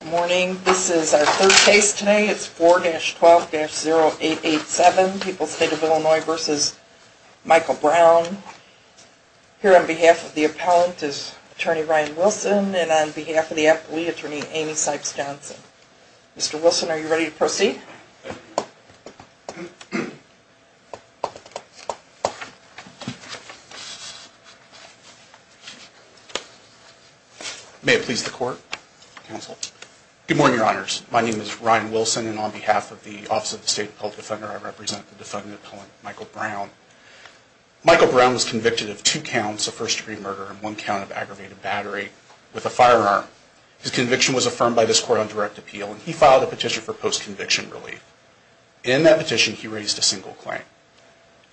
Good morning. This is our third case today. It's 4-12-0887, People's State of Illinois v. Michael Brown. Here on behalf of the appellant is Attorney Ryan Wilson, and on behalf of the attorney, Amy Sipes Johnson. Mr. Wilson, are you ready to proceed? May it please the court, counsel. Good morning, your honors. My name is Ryan Wilson, and on behalf of the Office of the State Appellant Defender, I represent the defendant appellant, Michael Brown. Michael Brown was convicted of two counts of first degree murder and one count of aggravated battery with a firearm. His conviction was affirmed by this court on direct appeal, and he filed a petition for post-conviction relief. In that petition, he raised a single claim.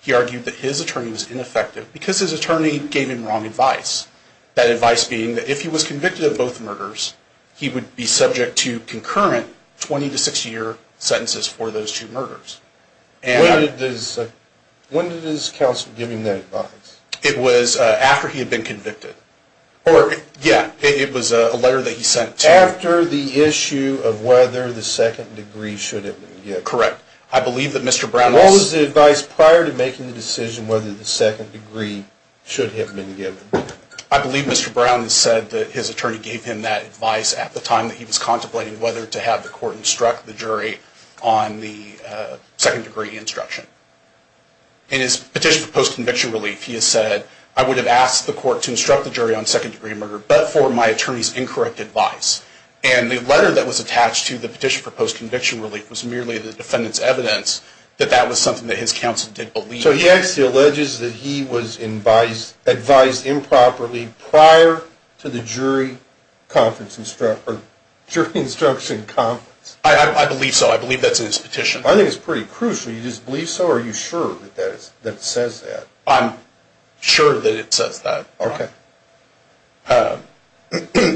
He argued that his attorney was ineffective because his attorney gave him wrong advice. That advice being that if he was convicted of both murders, he would be subject to concurrent 20- to 60-year sentences for those two murders. When did his counsel give him that advice? It was after he had been convicted. Yeah, it was a letter that he sent to you. After the issue of whether the second degree should have been given. Correct. I believe that Mr. Brown... What was the advice prior to making the decision whether the second degree should have been given? I believe Mr. Brown said that his attorney gave him that advice at the time that he was contemplating whether to have the court instruct the jury on the second degree instruction. In his petition for post-conviction relief, he has said, I would have asked the court to instruct the jury on second degree murder, but for my attorney's incorrect advice. And the letter that was attached to the petition for post-conviction relief was merely the defendant's evidence that that was something that his counsel did believe. So he actually alleges that he was advised improperly prior to the jury instruction conference. I believe so. I believe that's in his petition. I think it's pretty crucial. You just believe so? Or are you sure that it says that? I'm sure that it says that. Okay.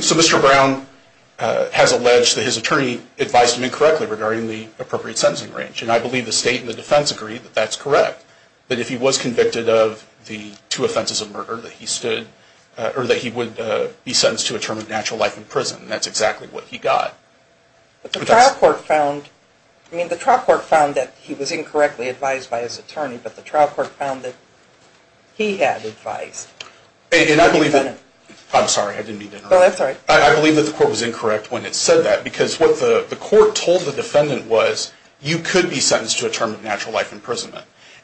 So Mr. Brown has alleged that his attorney advised him incorrectly regarding the appropriate sentencing range. And I believe the state and the defense agree that that's correct. That if he was convicted of the two offenses of murder, that he would be sentenced to a term of natural life in prison. And that's exactly what he got. But the trial court found, I mean the trial court found that he was incorrectly advised by his attorney, but the trial court found that he had advised. And I believe that, I'm sorry, I didn't mean to interrupt. Oh, that's all right. I believe that the court was incorrect when it said that. Because what the court told the defendant was, you could be sentenced to a term of natural life in prison.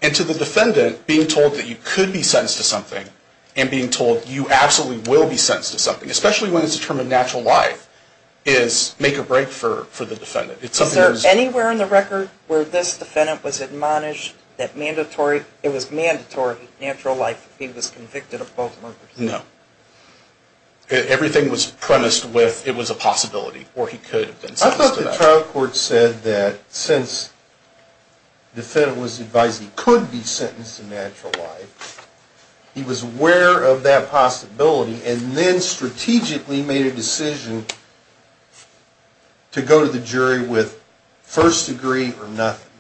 And to the defendant, being told that you could be sentenced to something, and being told you absolutely will be sentenced to something, especially when it's a term of natural life, is make or break for the defendant. Is there anywhere in the record where this defendant was admonished that it was mandatory natural life if he was convicted of both murders? No. Everything was premised with it was a possibility, or he could have been sentenced to that. I thought the trial court said that since the defendant was advised he could be sentenced to natural life, he was aware of that possibility, and then strategically made a decision to go to the jury with first degree or nothing.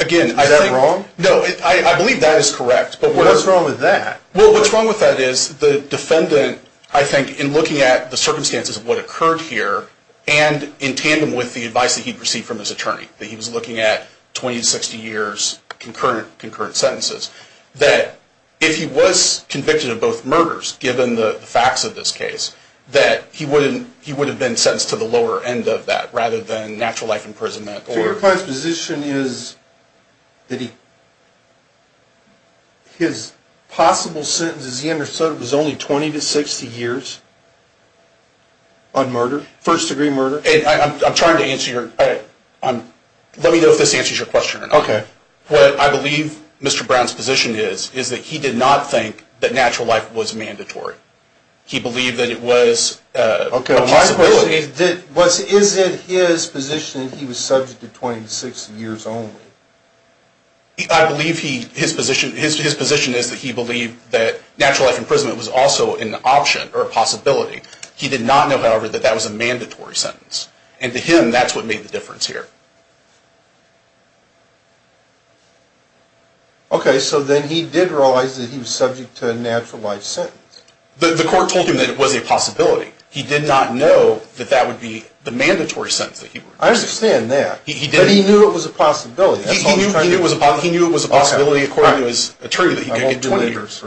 Again, I think... Is that wrong? No, I believe that is correct. What's wrong with that? Well, what's wrong with that is the defendant, I think, in looking at the circumstances of what occurred here, and in tandem with the advice that he'd received from his attorney, that he was looking at 20 to 60 years concurrent sentences, that if he was convicted of both murders, given the facts of this case, that he would have been sentenced to the lower end of that, rather than natural life imprisonment. So your client's position is that his possible sentence, as he understood it, was only 20 to 60 years on murder? First degree murder? I'm trying to answer your... Let me know if this answers your question or not. Okay. What I believe Mr. Brown's position is, is that he did not think that natural life was mandatory. He believed that it was... Okay, my question is, is it his position that he was subject to 20 to 60 years only? I believe his position is that he believed that natural life imprisonment was also an option or a possibility. He did not know, however, that that was a mandatory sentence. And to him, that's what made the difference here. Okay, so then he did realize that he was subject to a natural life sentence. The court told him that it was a possibility. He did not know that that would be the mandatory sentence that he would receive. I understand that. But he knew it was a possibility. He knew it was a possibility, according to his attorney, that he could get 20 years.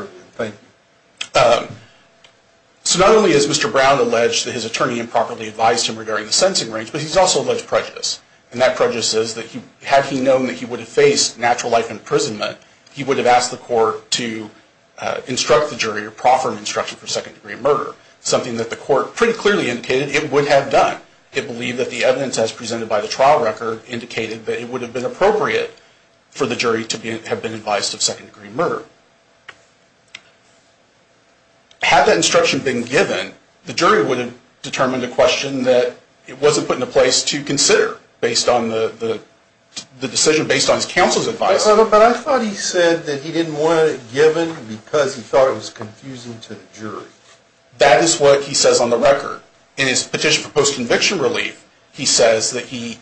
So not only has Mr. Brown alleged that his attorney improperly advised him regarding the sentencing range, but he's also alleged prejudice. And that prejudice is that had he known that he would have faced natural life imprisonment, he would have asked the court to instruct the jury or proffer an instruction for second degree murder, something that the court pretty clearly indicated it would have done. It believed that the evidence as presented by the trial record indicated that it would have been appropriate for the jury to have been advised of second degree murder. Had that instruction been given, the jury would have determined a question that it wasn't put into place to consider based on the decision based on his counsel's advice. But I thought he said that he didn't want it given because he thought it was confusing to the jury. That is what he says on the record. In his petition for post-conviction relief, he says that he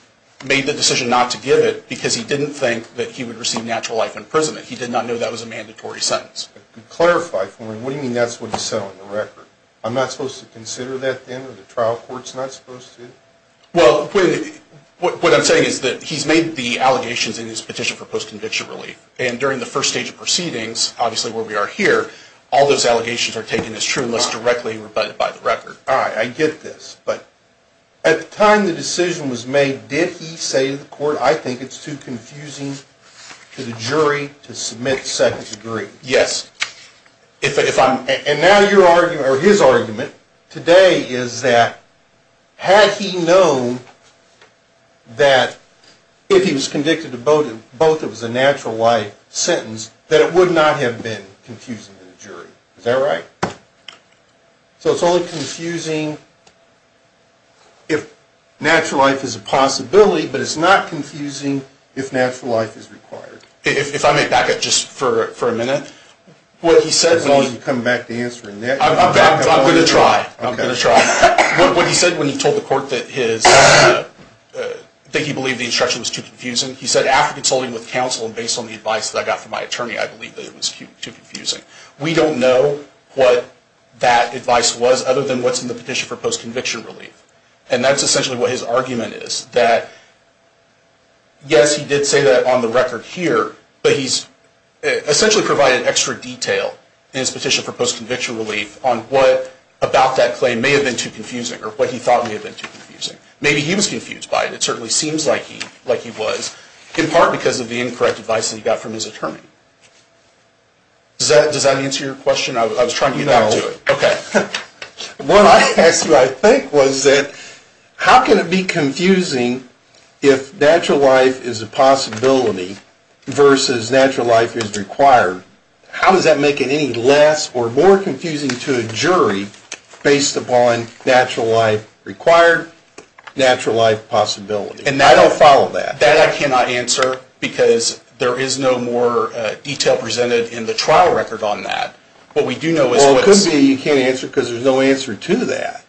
made the decision not to give it because he didn't think that he would receive natural life imprisonment. He did not know that was a mandatory sentence. To clarify for me, what do you mean that's what he said on the record? I'm not supposed to consider that then? Are the trial courts not supposed to? Well, what I'm saying is that he's made the allegations in his petition for post-conviction relief. And during the first stage of proceedings, obviously where we are here, all those allegations are taken as true unless directly rebutted by the record. All right, I get this. But at the time the decision was made, did he say to the court, I think it's too confusing to the jury to submit second degree? Yes. And now his argument today is that had he known that if he was convicted of both, it was a natural life sentence, that it would not have been confusing to the jury. Is that right? So it's only confusing if natural life is a possibility, but it's not confusing if natural life is required. If I may back up just for a minute. As long as you come back to answering that. I'm going to try. I'm going to try. What he said when he told the court that he believed the instruction was too confusing, he said after consulting with counsel and based on the advice that I got from my attorney, I believe that it was too confusing. We don't know what that advice was other than what's in the petition for post-conviction relief. And that's essentially what his argument is. That yes, he did say that on the record here, but he's essentially provided extra detail in his petition for post-conviction relief on what about that claim may have been too confusing or what he thought may have been too confusing. Maybe he was confused by it. It certainly seems like he was, in part because of the incorrect advice that he got from his attorney. Does that answer your question? I was trying to get back to it. Okay. What I think was that how can it be confusing if natural life is a possibility versus natural life is required? How does that make it any less or more confusing to a jury based upon natural life required, natural life possibility? And I don't follow that. That I cannot answer because there is no more detail presented in the trial record on that. Well, it could be you can't answer because there's no answer to that.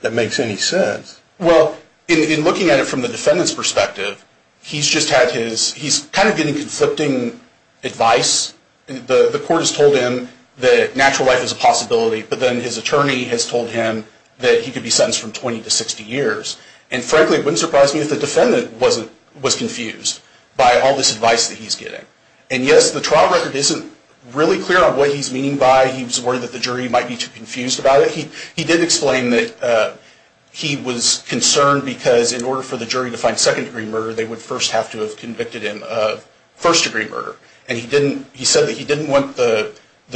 That makes any sense. Well, in looking at it from the defendant's perspective, he's kind of getting conflicting advice. The court has told him that natural life is a possibility, but then his attorney has told him that he could be sentenced from 20 to 60 years. And frankly, it wouldn't surprise me if the defendant was confused by all this advice that he's getting. And yes, the trial record isn't really clear on what he's meaning by he was worried that the jury might be too confused about it. He did explain that he was concerned because in order for the jury to find second-degree murder, they would first have to have convicted him of first-degree murder. And he said that he didn't want the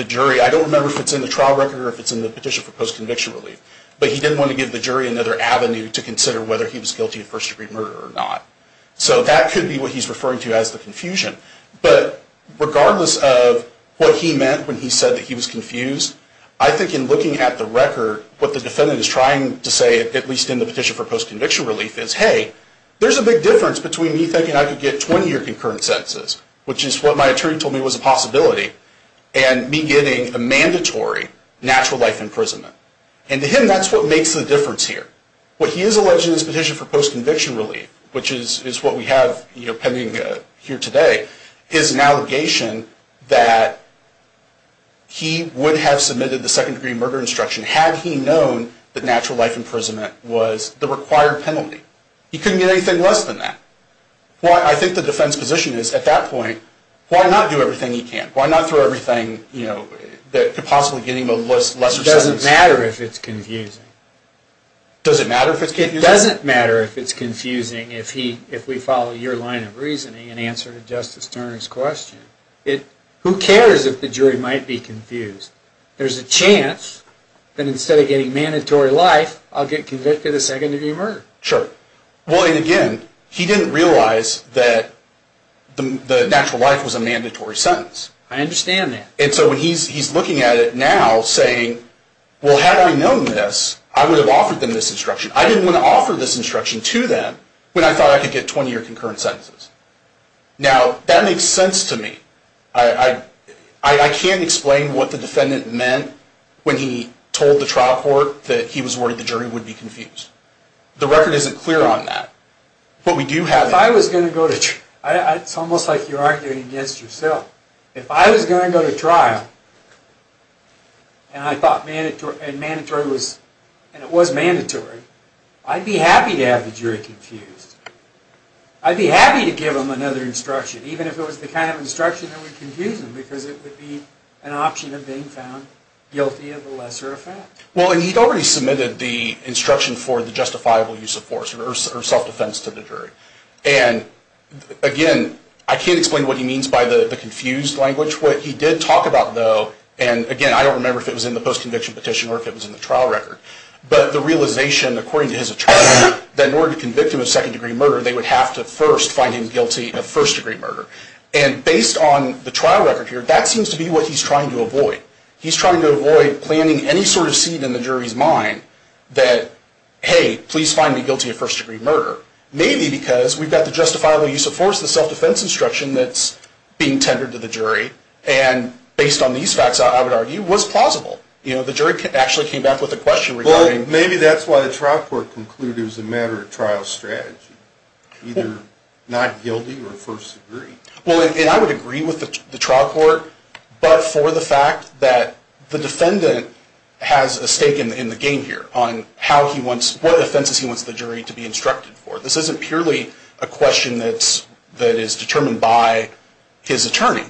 jury, I don't remember if it's in the trial record or if it's in the petition for post-conviction relief, but he didn't want to give the jury another avenue to consider whether he was guilty of first-degree murder or not. So that could be what he's referring to as the confusion. But regardless of what he meant when he said that he was confused, I think in looking at the record, what the defendant is trying to say, at least in the petition for post-conviction relief, is hey, there's a big difference between me thinking I could get 20-year concurrent sentences, which is what my attorney told me was a possibility, and me getting a mandatory natural life imprisonment. And to him, that's what makes the difference here. What he is alleging in his petition for post-conviction relief, which is what we have pending here today, is an allegation that he would have submitted the second-degree murder instruction had he known that natural life imprisonment was the required penalty. He couldn't get anything less than that. I think the defense position is, at that point, why not do everything he can? Why not throw everything that could possibly get him a lesser sentence? It doesn't matter if it's confusing. Does it matter if it's confusing? It doesn't matter if it's confusing if we follow your line of reasoning and answer to Justice Turner's question. Who cares if the jury might be confused? There's a chance that instead of getting mandatory life, I'll get convicted of second-degree murder. Sure. Well, and again, he didn't realize that the natural life was a mandatory sentence. I understand that. And so he's looking at it now saying, well, had I known this, I would have offered them this instruction. I didn't want to offer this instruction to them when I thought I could get 20 or concurrent sentences. Now, that makes sense to me. I can't explain what the defendant meant when he told the trial court that he was worried the jury would be confused. The record isn't clear on that. But we do have it. It's almost like you're arguing against yourself. If I was going to go to trial and it was mandatory, I'd be happy to have the jury confused. I'd be happy to give them another instruction, even if it was the kind of instruction that would confuse them because it would be an option of being found guilty of a lesser offense. Well, and he'd already submitted the instruction for the justifiable use of force or self-defense to the jury. And again, I can't explain what he means by the confused language. What he did talk about, though, and again, I don't remember if it was in the post-conviction petition or if it was in the trial record, but the realization according to his attorney that in order to convict him of second-degree murder, they would have to first find him guilty of first-degree murder. And based on the trial record here, that seems to be what he's trying to avoid. He's trying to avoid planting any sort of seed in the jury's mind that, hey, please find me guilty of first-degree murder, maybe because we've got the justifiable use of force, the self-defense instruction that's being tendered to the jury, and based on these facts, I would argue, was plausible. You know, the jury actually came back with a question regarding... Well, maybe that's why the trial court concluded it was a matter of trial strategy, either not guilty or first degree. Well, and I would agree with the trial court, but for the fact that the defendant has a stake in the game here on what offenses he wants the jury to be instructed for. This isn't purely a question that is determined by his attorney.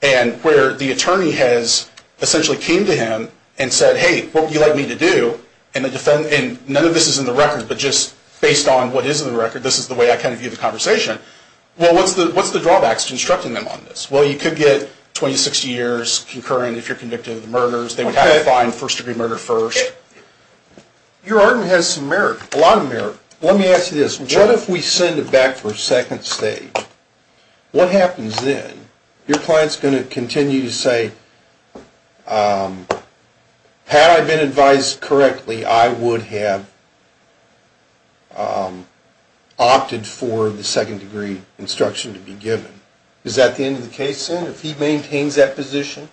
And where the attorney has essentially came to him and said, hey, what would you like me to do? And none of this is in the record, but just based on what is in the record, this is the way I kind of view the conversation. Well, what's the drawbacks to instructing them on this? Well, you could get 20 to 60 years concurrent if you're convicted of the murders. They would have to find first degree murder first. Your argument has some merit, a lot of merit. Let me ask you this. What if we send it back for a second stage? What happens then? Your client's going to continue to say, had I been advised correctly, I would have opted for the second degree instruction to be given. Is that the end of the case then, if he maintains that position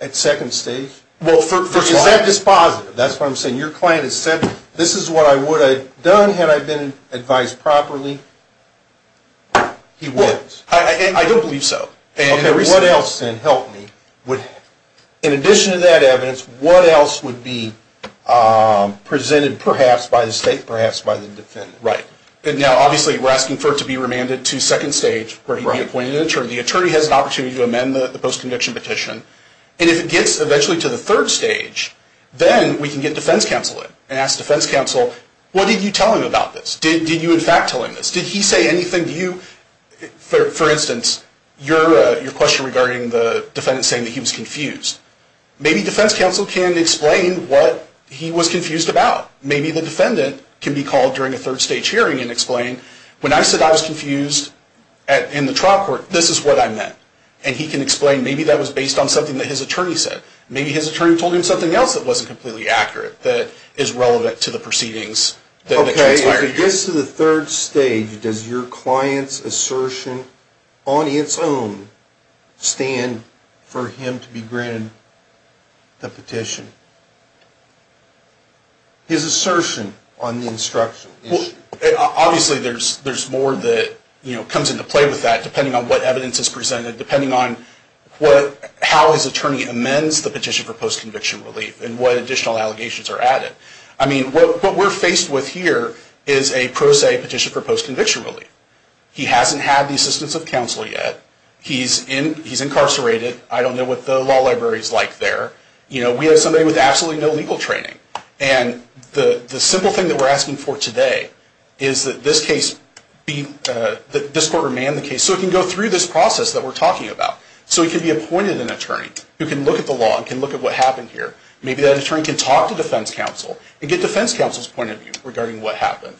at second stage? Is that dispositive? That's what I'm saying. Your client has said, this is what I would have done had I been advised properly. He wins. I don't believe so. What else, then, help me, in addition to that evidence, what else would be presented perhaps by the state, perhaps by the defendant? Right. Now, obviously, we're asking for it to be remanded to second stage, where he'd be appointed an attorney. The attorney has an opportunity to amend the post-conviction petition. And if it gets eventually to the third stage, then we can get defense counsel in and ask defense counsel, what did you tell him about this? Did you, in fact, tell him this? Did he say anything to you? For instance, your question regarding the defendant saying that he was confused. Maybe defense counsel can explain what he was confused about. Maybe the defendant can be called during a third stage hearing and explain, when I said I was confused in the trial court, this is what I meant. And he can explain maybe that was based on something that his attorney said. Maybe his attorney told him something else that wasn't completely accurate that is relevant to the proceedings. Okay. If it gets to the third stage, does your client's assertion on its own stand for him to be granted the petition? His assertion on the instructional issue. Obviously, there's more that comes into play with that, depending on what evidence is presented, depending on how his attorney amends the petition for post-conviction relief and what additional allegations are added. I mean, what we're faced with here is a pro se petition for post-conviction relief. He hasn't had the assistance of counsel yet. He's incarcerated. I don't know what the law library is like there. We have somebody with absolutely no legal training. And the simple thing that we're asking for today is that this court remand the case so it can go through this process that we're talking about. So it can be appointed an attorney who can look at the law and can look at what happened here. Maybe that attorney can talk to defense counsel and get defense counsel's point of view regarding what happened.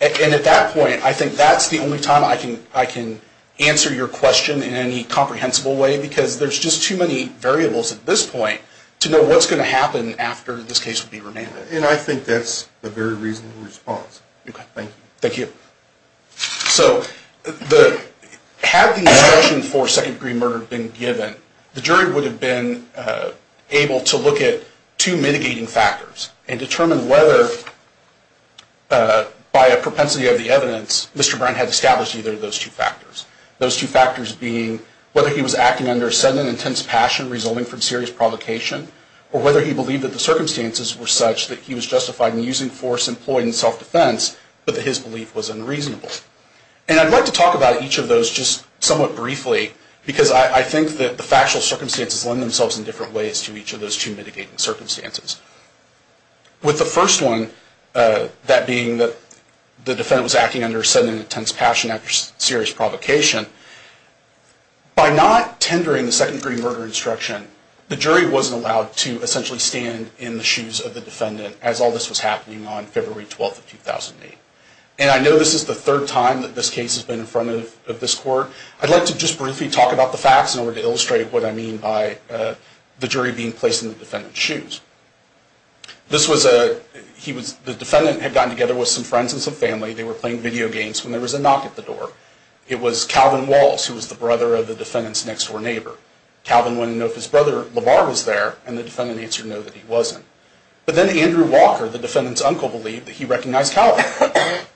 And at that point, I think that's the only time I can answer your question in any comprehensible way because there's just too many variables at this point to know what's going to happen after this case will be remanded. And I think that's a very reasonable response. Okay. Thank you. Thank you. So had the instruction for second-degree murder been given, the jury would have been able to look at two mitigating factors and determine whether, by a propensity of the evidence, Mr. Brown had established either of those two factors, those two factors being whether he was acting under a sudden and intense passion resulting from serious provocation or whether he believed that the circumstances were such that he was justified in using force employed in self-defense but that his belief was unreasonable. And I'd like to talk about each of those just somewhat briefly because I think that the factual circumstances lend themselves in different ways to each of those two mitigating circumstances. With the first one, that being that the defendant was acting under a sudden and intense passion after serious provocation, by not tendering the second-degree murder instruction, the jury wasn't allowed to essentially stand in the shoes of the defendant as all this was happening on February 12, 2008. And I know this is the third time that this case has been in front of this court. I'd like to just briefly talk about the facts in order to illustrate what I mean by the jury being placed in the defendant's shoes. The defendant had gotten together with some friends and some family. They were playing video games when there was a knock at the door. It was Calvin Walls, who was the brother of the defendant's next-door neighbor. Calvin went to know if his brother, LeVar, was there, and the defendant answered no that he wasn't. But then Andrew Walker, the defendant's uncle, believed that he recognized Calvin.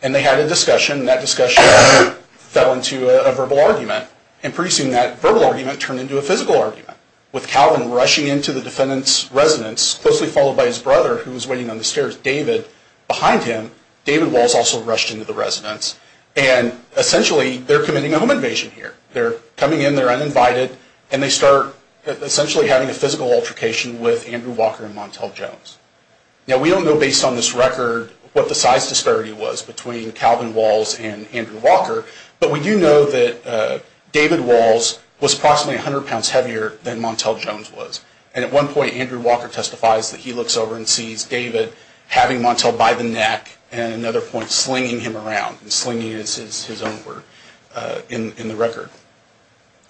And they had a discussion, and that discussion fell into a verbal argument. And pretty soon that verbal argument turned into a physical argument, with Calvin rushing into the defendant's residence, closely followed by his brother, who was waiting on the stairs, David, behind him. David Walls also rushed into the residence. And essentially, they're committing a home invasion here. They're coming in, they're uninvited, and they start essentially having a physical altercation with Andrew Walker and Montel Jones. Now, we don't know, based on this record, what the size disparity was between Calvin Walls and Andrew Walker. But we do know that David Walls was approximately 100 pounds heavier than Montel Jones was. And at one point, Andrew Walker testifies that he looks over and sees David having Montel by the neck, and at another point slinging him around. And slinging is his own word in the record.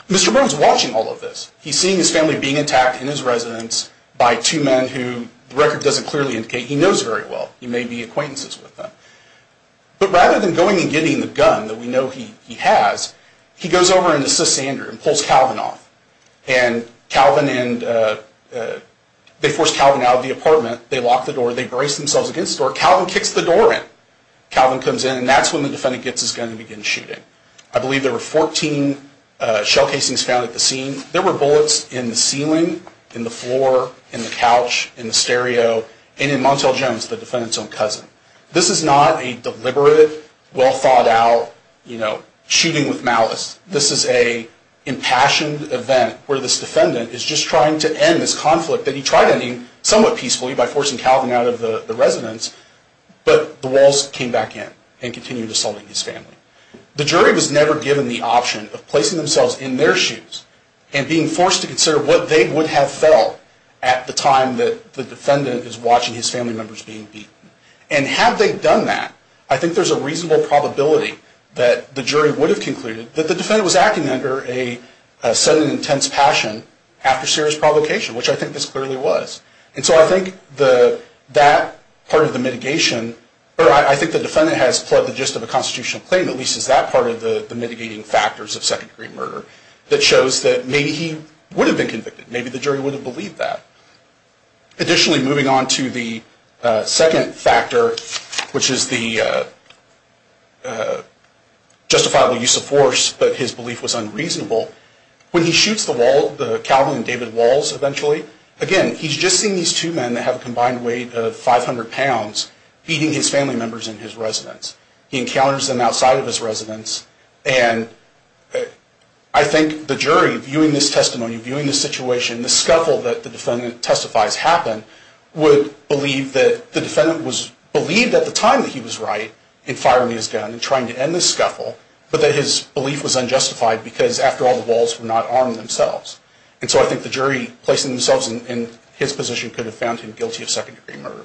Mr. Burns is watching all of this. He's seeing his family being attacked in his residence by two men who the record doesn't clearly indicate he knows very well. He may be acquaintances with them. But rather than going and getting the gun that we know he has, he goes over and assists Andrew and pulls Calvin off. And they force Calvin out of the apartment. They lock the door. They brace themselves against the door. Calvin kicks the door in. Calvin comes in, and that's when the defendant gets his gun and begins shooting. I believe there were 14 shell casings found at the scene. There were bullets in the ceiling, in the floor, in the couch, in the stereo, and in Montel Jones, the defendant's own cousin. This is not a deliberate, well-thought-out shooting with malice. This is an impassioned event where this defendant is just trying to end this conflict that he tried ending somewhat peacefully by forcing Calvin out of the residence. But the Walls came back in and continued assaulting his family. The jury was never given the option of placing themselves in their shoes and being forced to consider what they would have felt at the time that the defendant is watching his family members being beaten. And had they done that, I think there's a reasonable probability that the jury would have concluded that the defendant was acting under a sudden intense passion after serious provocation, which I think this clearly was. And so I think that part of the mitigation, or I think the defendant has brought the gist of a constitutional claim, at least is that part of the mitigating factors of second-degree murder that shows that maybe he would have been convicted. Maybe the jury would have believed that. Additionally, moving on to the second factor, which is the justifiable use of force, but his belief was unreasonable. When he shoots the Wall, Calvin and David Walls eventually, again, he's just seeing these two men that have a combined weight of 500 pounds beating his residents. He encounters them outside of his residence. And I think the jury, viewing this testimony, viewing this situation, the scuffle that the defendant testifies happened, would believe that the defendant was believed at the time that he was right in firing his gun and trying to end this scuffle, but that his belief was unjustified because after all, the Walls were not armed themselves. And so I think the jury placing themselves in his position could have found him guilty of second-degree murder.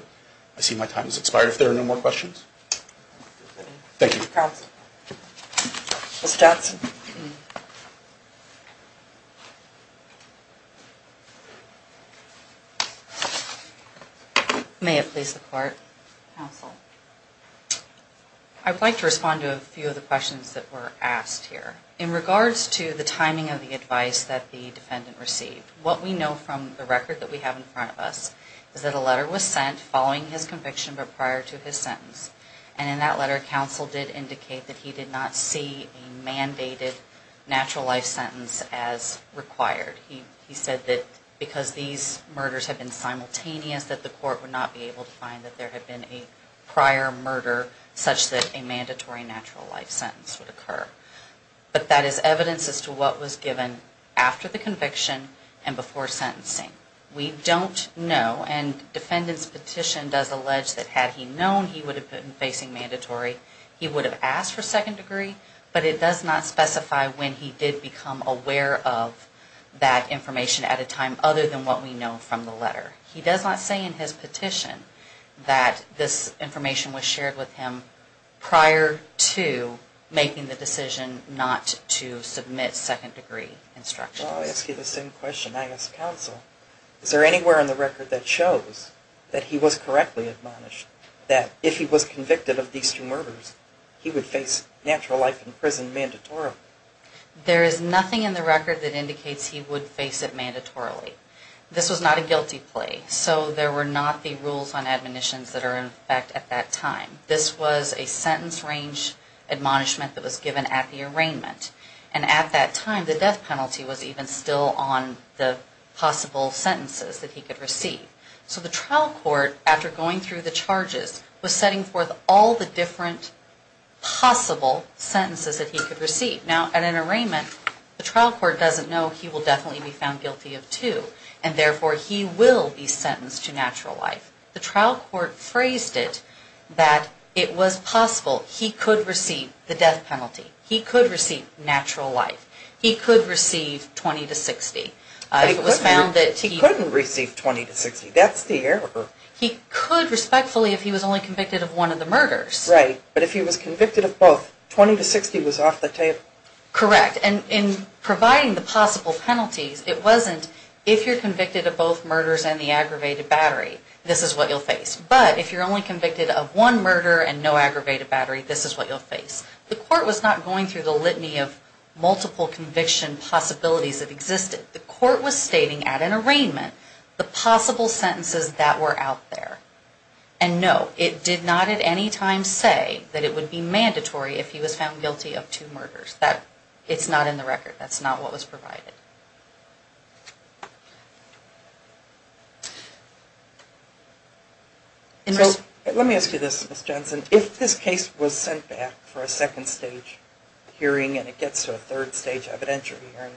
I see my time has expired. If there are no more questions. Thank you. Mr. Johnson. May it please the Court. Counsel. I would like to respond to a few of the questions that were asked here. In regards to the timing of the advice that the defendant received, what we know from the record that we have in front of us is that a letter was sent following his conviction but prior to his sentence. And in that letter, counsel did indicate that he did not see a mandated natural life sentence as required. He said that because these murders had been simultaneous, that the court would not be able to find that there had been a prior murder such that a mandatory natural life sentence would occur. But that is evidence as to what was given after the conviction and before sentencing. We don't know, and defendant's petition does allege that had he known he would have been facing mandatory, he would have asked for second degree, but it does not specify when he did become aware of that information at a time other than what we know from the letter. He does not say in his petition that this information was shared with him prior to making the decision not to submit second-degree instructions. I'll ask you the same question I ask counsel. Is there anywhere in the record that shows that he was correctly admonished, that if he was convicted of these two murders, he would face natural life in prison mandatorily? There is nothing in the record that indicates he would face it mandatorily. This was not a guilty plea, so there were not the rules on admonitions that are in effect at that time. This was a sentence range admonishment that was given at the arraignment. And at that time, the death penalty was even still on the possible sentences that he could receive. So the trial court, after going through the charges, was setting forth all the different possible sentences that he could receive. Now, at an arraignment, the trial court doesn't know he will definitely be found guilty of two, and therefore he will be sentenced to natural life. The trial court phrased it that it was possible he could receive the death penalty, and therefore he would face natural life. He could receive 20 to 60. He couldn't receive 20 to 60. That's the error. He could, respectfully, if he was only convicted of one of the murders. Right. But if he was convicted of both, 20 to 60 was off the table. Correct. And in providing the possible penalties, it wasn't if you're convicted of both murders and the aggravated battery, this is what you'll face. But if you're only convicted of one murder and no aggravated battery, this is what you'll face. The court was not going through the litany of multiple conviction possibilities that existed. The court was stating at an arraignment the possible sentences that were out there. And no, it did not at any time say that it would be mandatory if he was found guilty of two murders. It's not in the record. That's not what was provided. Let me ask you this, Ms. Jensen. If this case was sent back for a second stage hearing and it gets to a third stage evidentiary hearing,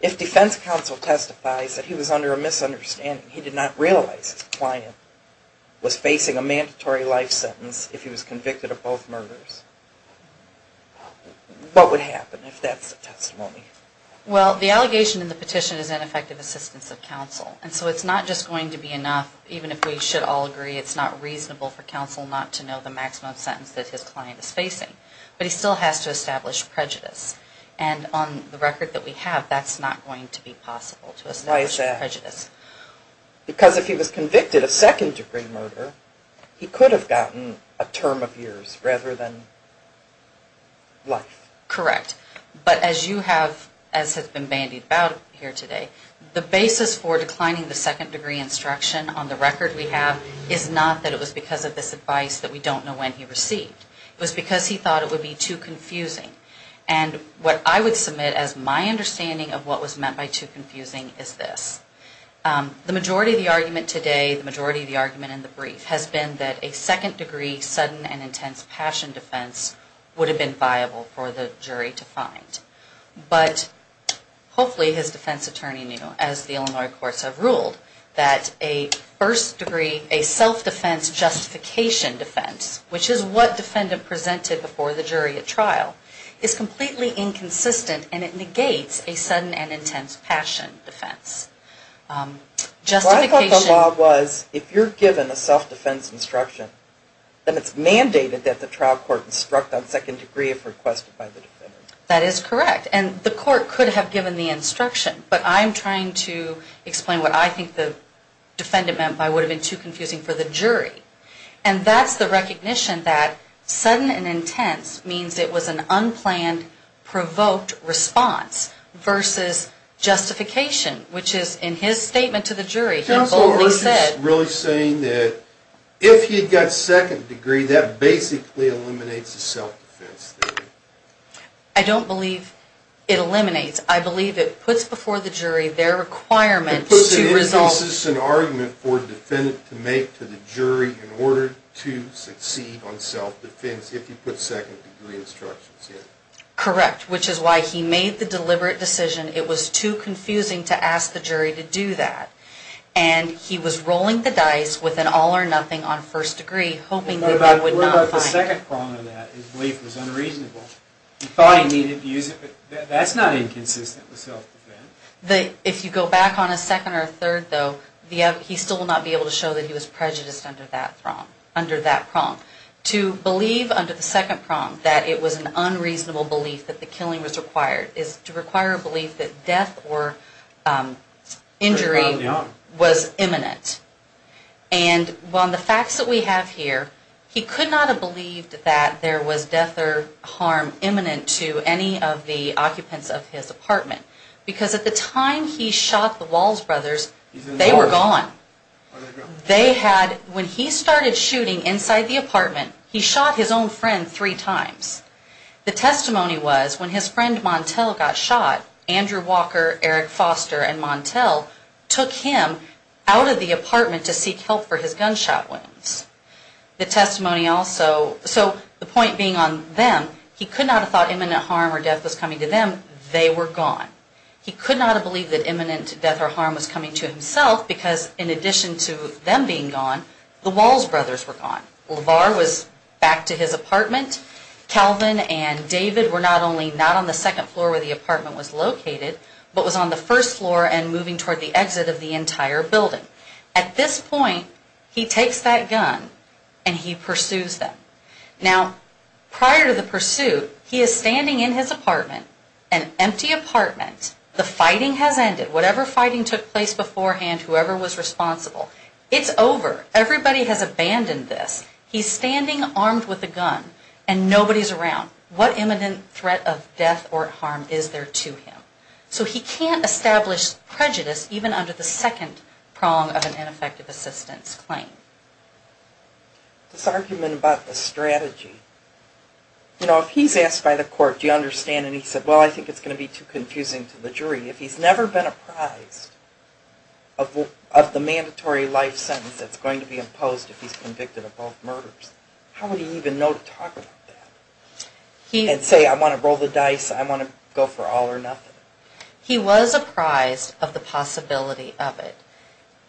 if defense counsel testifies that he was under a misunderstanding, he did not realize his client was facing a mandatory life sentence if he was convicted of both murders, what would happen if that's the testimony? Well, the allegation in the petition is ineffective assistance of counsel. And so it's not just going to be enough, even if we should all agree it's not reasonable for counsel not to know the maximum sentence that his client is facing. But he still has to establish prejudice. And on the record that we have, that's not going to be possible to establish prejudice. Why is that? Because if he was convicted of second degree murder, he could have gotten a term of years rather than life. Correct. But as you have, as has been bandied about here today, the basis for declining the second degree instruction on the record we have is not that it was because of this advice that we don't know when he received. It was because he thought it would be too confusing. And what I would submit as my understanding of what was meant by too confusing is this. The majority of the argument today, the majority of the argument in the brief has been that a second degree sudden and intense passion defense would have been viable for the jury to find. But hopefully his defense attorney knew, as the Illinois courts have ruled, that a first degree, a self-defense justification defense, which is what defendant presented before the jury at trial, is completely inconsistent and it negates a sudden and intense passion defense. I thought the law was if you're given a self-defense instruction, then it's correct. And the court could have given the instruction. But I'm trying to explain what I think the defendant meant by would have been too confusing for the jury. And that's the recognition that sudden and intense means it was an unplanned, provoked response versus justification, which is in his statement to the jury that Boldly said. Counsel, we're just really saying that if he got second degree, that basically eliminates the self-defense theory. I don't believe it eliminates. I believe it puts before the jury their requirement to resolve. It puts an inconsistent argument for the defendant to make to the jury in order to succeed on self-defense if you put second degree instructions in. Correct, which is why he made the deliberate decision. It was too confusing to ask the jury to do that. And he was rolling the dice with an all or nothing on first degree, hoping that they would not find it. What about the second prong of that, his belief was unreasonable? He thought he needed to use it, but that's not inconsistent with self-defense. If you go back on a second or a third, though, he still will not be able to show that he was prejudiced under that prong, under that prong. To believe under the second prong that it was an unreasonable belief that the killing was required is to require a belief that death or injury was imminent. And on the facts that we have here, he could not have believed that there was death or harm imminent to any of the occupants of his apartment, because at the time he shot the Walls brothers, they were gone. They had, when he started shooting inside the apartment, he shot his own friend three times. The testimony was when his friend Montel got shot, Andrew Walker, Eric Foster and Montel took him out of the apartment to seek help for his gunshot wounds. The testimony also, so the point being on them, he could not have thought imminent harm or death was coming to them. They were gone. He could not have believed that imminent death or harm was coming to himself because in addition to them being gone, the Walls brothers were gone. LaVar was back to his apartment. Calvin and David were not only not on the second floor where the apartment was located, but was on the first floor and moving toward the exit of the entire building. At this point, he takes that gun and he pursues them. Now, prior to the pursuit, he is standing in his apartment, an empty apartment, the fighting has ended, whatever fighting took place beforehand, whoever was responsible. It's over. Everybody has abandoned this. He's standing armed with a gun and nobody's around. What imminent threat of death or harm is there to him? So he can't establish prejudice even under the second prong of an ineffective assistance claim. This argument about the strategy. You know, if he's asked by the court, do you understand? And he said, well, I think it's going to be too confusing to the jury. If he's never been apprised of the mandatory life sentence that's going to be imposed if he's convicted of both murders, how would he even know to talk about that? And say, I want to roll the dice, I want to go for all or nothing. He was apprised of the possibility of it.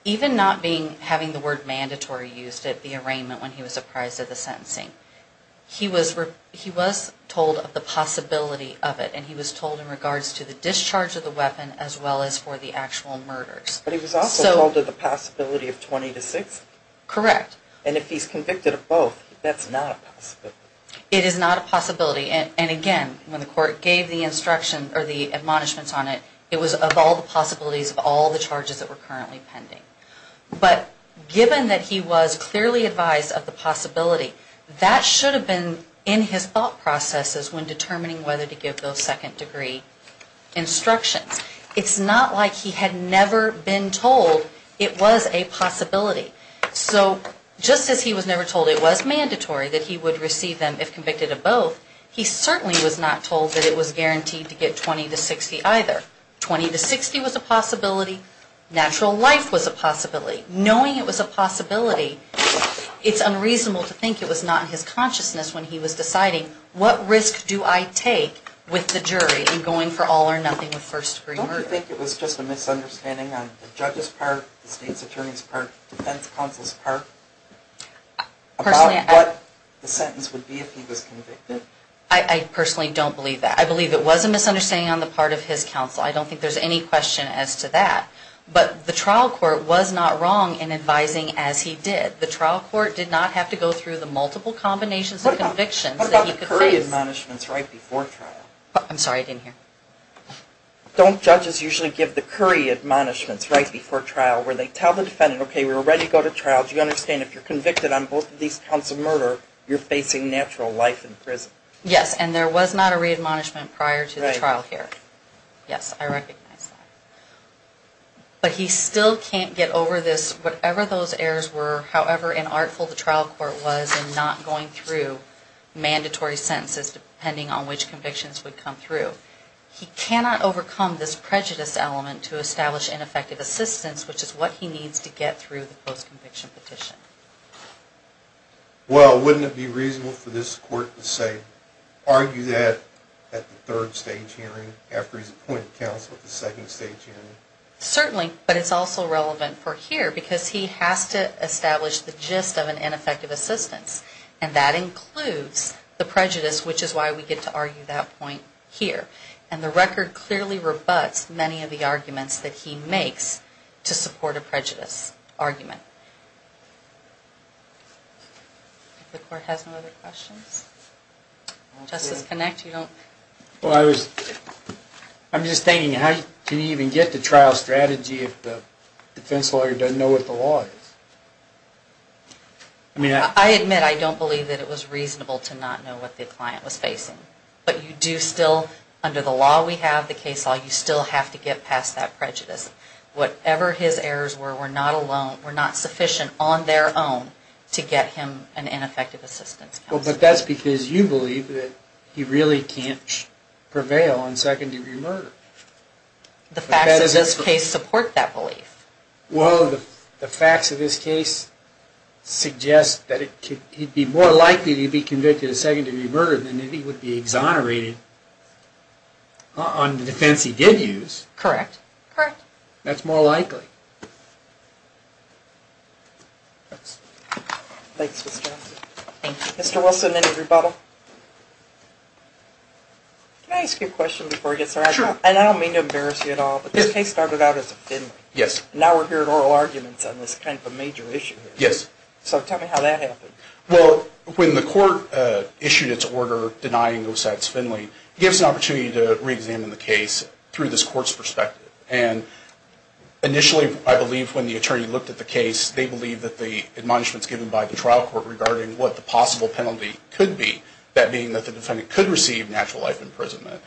Even not having the word mandatory used at the arraignment when he was apprised of the sentencing. He was told of the possibility of it and he was told in regards to the discharge of the weapon as well as for the actual murders. But he was also told of the possibility of 20 to 60. Correct. And if he's convicted of both, that's not a possibility. It is not a possibility. And again, when the court gave the instruction or the admonishments on it, it was of all the possibilities of all the charges that were currently pending. But given that he was clearly advised of the possibility, that should have been in his thought processes when determining whether to give those second degree instructions. It's not like he had never been told it was a possibility. So just as he was never told it was mandatory that he would receive them if convicted of both, he certainly was not told that it was guaranteed to get 20 to 60 either. 20 to 60 was a possibility. Natural life was a possibility. Knowing it was a possibility, it's unreasonable to think it was not in his consciousness when he was deciding what risk do I take with the jury in going for all or nothing with first degree murder. Don't you think it was just a misunderstanding on the judge's part, the defense counsel's part about what the sentence would be if he was convicted? I personally don't believe that. I believe it was a misunderstanding on the part of his counsel. I don't think there's any question as to that. But the trial court was not wrong in advising as he did. The trial court did not have to go through the multiple combinations of convictions that he could face. What about the Curry admonishments right before trial? I'm sorry, I didn't hear. Don't judges usually give the Curry admonishments right before trial where they tell the defendant, okay, we're ready to go to trial. Do you understand if you're convicted on both of these counts of murder, you're facing natural life in prison? Yes, and there was not a re-admonishment prior to the trial here. Yes, I recognize that. But he still can't get over this, whatever those errors were, however inartful the trial court was in not going through mandatory sentences depending on which convictions would come through. He cannot overcome this prejudice element to establish ineffective assistance, which is what he needs to get through the post-conviction petition. Well, wouldn't it be reasonable for this court to say, argue that at the third stage hearing after he's appointed counsel at the second stage hearing? Certainly, but it's also relevant for here because he has to establish the gist of an ineffective assistance. And that includes the prejudice, which is why we get to argue that point here. And the record clearly rebuts many of the arguments that he makes to support a prejudice argument. If the court has no other questions? Justice Connacht, you don't? I'm just thinking, how can you even get to trial strategy if the defense lawyer doesn't know what the law is? I admit I don't believe that it was reasonable to not know what the client was facing. But you do still, under the law we have, the case law, you still have to get past that prejudice. Whatever his errors were, were not sufficient on their own to get him an ineffective assistance counsel. Well, but that's because you believe that he really can't prevail on second-degree murder. The facts of this case support that belief. If he did get a second-degree murder, then he would be exonerated on the defense he did use. Correct. Correct. That's more likely. Thanks, Mr. Johnson. Thank you. Mr. Wilson, any rebuttal? Can I ask you a question before we get started? Sure. And I don't mean to embarrass you at all, but this case started out as a Finley. Yes. And now we're hearing oral arguments on this kind of a major issue. Yes. So tell me how that happened. Well, when the court issued its order denying Osak's Finley, it gives an opportunity to reexamine the case through this court's perspective. And initially, I believe, when the attorney looked at the case, they believed that the admonishments given by the trial court regarding what the possible penalty could be, that being that the defendant could receive natural life imprisonment,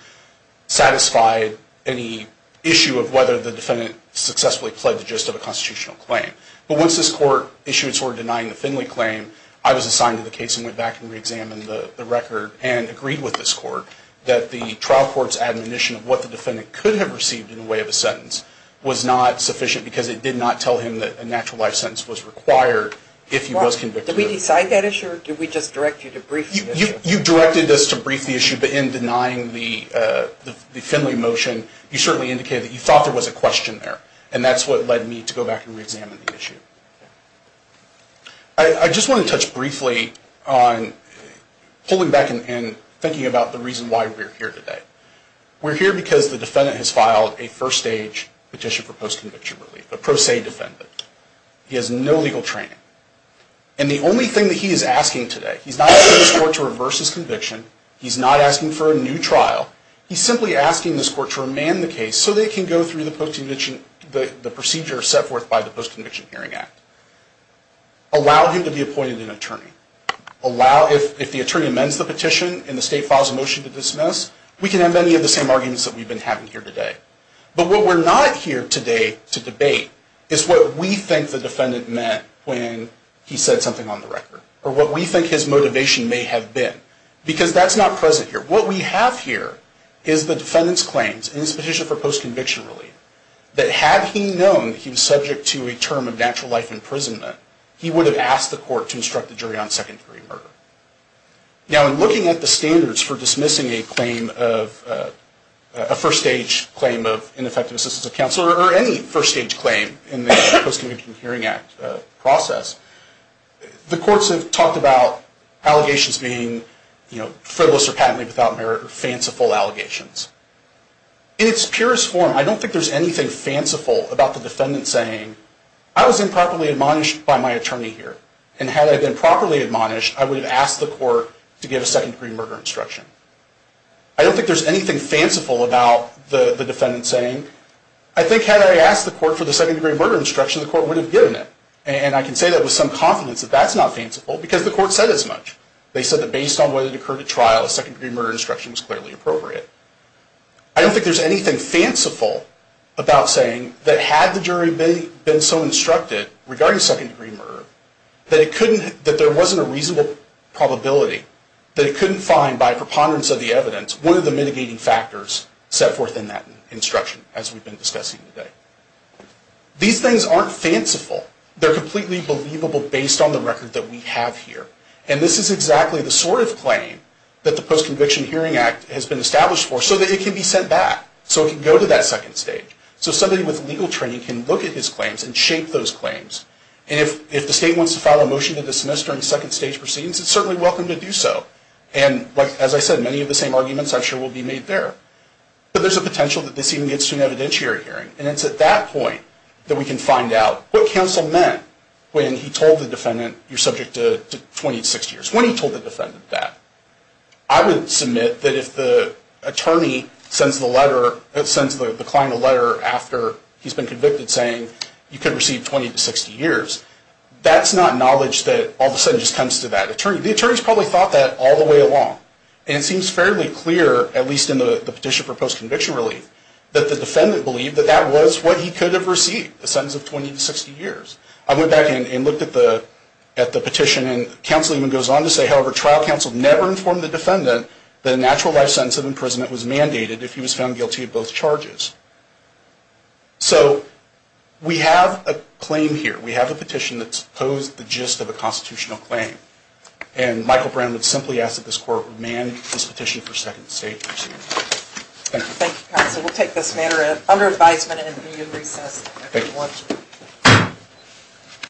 satisfied any issue of whether the defendant successfully pled the gist of a constitutional claim. But once this court issued its order denying the Finley claim, I was assigned to the case and went back and reexamined the record and agreed with this court that the trial court's admonition of what the defendant could have received in the way of a sentence was not sufficient because it did not tell him that a natural life sentence was required if he was convicted. Did we decide that issue, or did we just direct you to brief the issue? You directed us to brief the issue, but in denying the Finley motion, you certainly indicated that you thought there was a question there. And that's what led me to go back and reexamine the issue. I just want to touch briefly on pulling back and thinking about the reason why we're here today. We're here because the defendant has filed a first-stage petition for post-conviction relief, a pro se defendant. He has no legal training. And the only thing that he is asking today, he's not asking this court to reverse his conviction, he's not asking for a new trial, he's simply asking this court to remand the case so that it can go through the procedure set forth by the Post-Conviction Hearing Act. Allow him to be appointed an attorney. If the attorney amends the petition and the state files a motion to dismiss, we can have any of the same arguments that we've been having here today. But what we're not here today to debate is what we think the defendant meant when he said something on the record, or what we think his motivation may have been, because that's not present here. What we have here is the defendant's claims in his petition for post-conviction relief, that had he known that he was subject to a term of natural life imprisonment, he would have asked the court to instruct the jury on second-degree murder. Now, in looking at the standards for dismissing a claim of, a first-stage claim of ineffective assistance of counsel, or any first-stage claim in the Post-Conviction Hearing Act process, the courts have talked about allegations being frivolous or patently without merit, or fanciful allegations. In its purest form, I don't think there's anything fanciful about the defendant saying, I was improperly admonished by my attorney here, and had I been properly admonished, I would have asked the court to give a second-degree murder instruction. I don't think there's anything fanciful about the defendant saying, I think had I asked the court for the second-degree murder instruction, the court would have given it. And I can say that with some confidence that that's not fanciful, because the court said as much. They said that based on what had occurred at trial, a second-degree murder instruction was clearly appropriate. I don't think there's anything fanciful about saying that had the jury been so instructed regarding second-degree murder, that there wasn't a reasonable probability that it couldn't find, by preponderance of the evidence, one of the mitigating factors set forth in that instruction, as we've been discussing today. These things aren't fanciful. They're completely believable based on the record that we have here. And this is exactly the sort of claim that the Post-Conviction Hearing Act has been established for, so that it can be sent back, so it can go to that second stage. So somebody with legal training can look at his claims and shape those claims. And if the state wants to file a motion to dismiss during second-stage proceedings, it's certainly welcome to do so. And as I said, many of the same arguments, I'm sure, will be made there. But there's a potential that this even gets to an evidentiary hearing. And it's at that point that we can find out what counsel meant when he told the defendant, you're subject to 20 to 60 years. When he told the defendant that. I would submit that if the attorney sends the letter, sends the client a letter after he's been convicted saying, you could receive 20 to 60 years, that's not knowledge that all of a sudden just comes to that attorney. The attorney's probably thought that all the way along. And it seems fairly clear, at least in the petition for post-conviction relief, that the defendant believed that that was what he could have received, a sentence of 20 to 60 years. I went back and looked at the petition. And counsel even goes on to say, however, trial counsel never informed the defendant that a natural life sentence of imprisonment was mandated if he was found guilty of both charges. So we have a claim here. We have a petition that's posed the gist of a constitutional claim. And Michael Brown would simply ask that this court would man this petition for second stage proceedings. Thank you, counsel. We'll take this matter under advisement and be in recess. Thank you.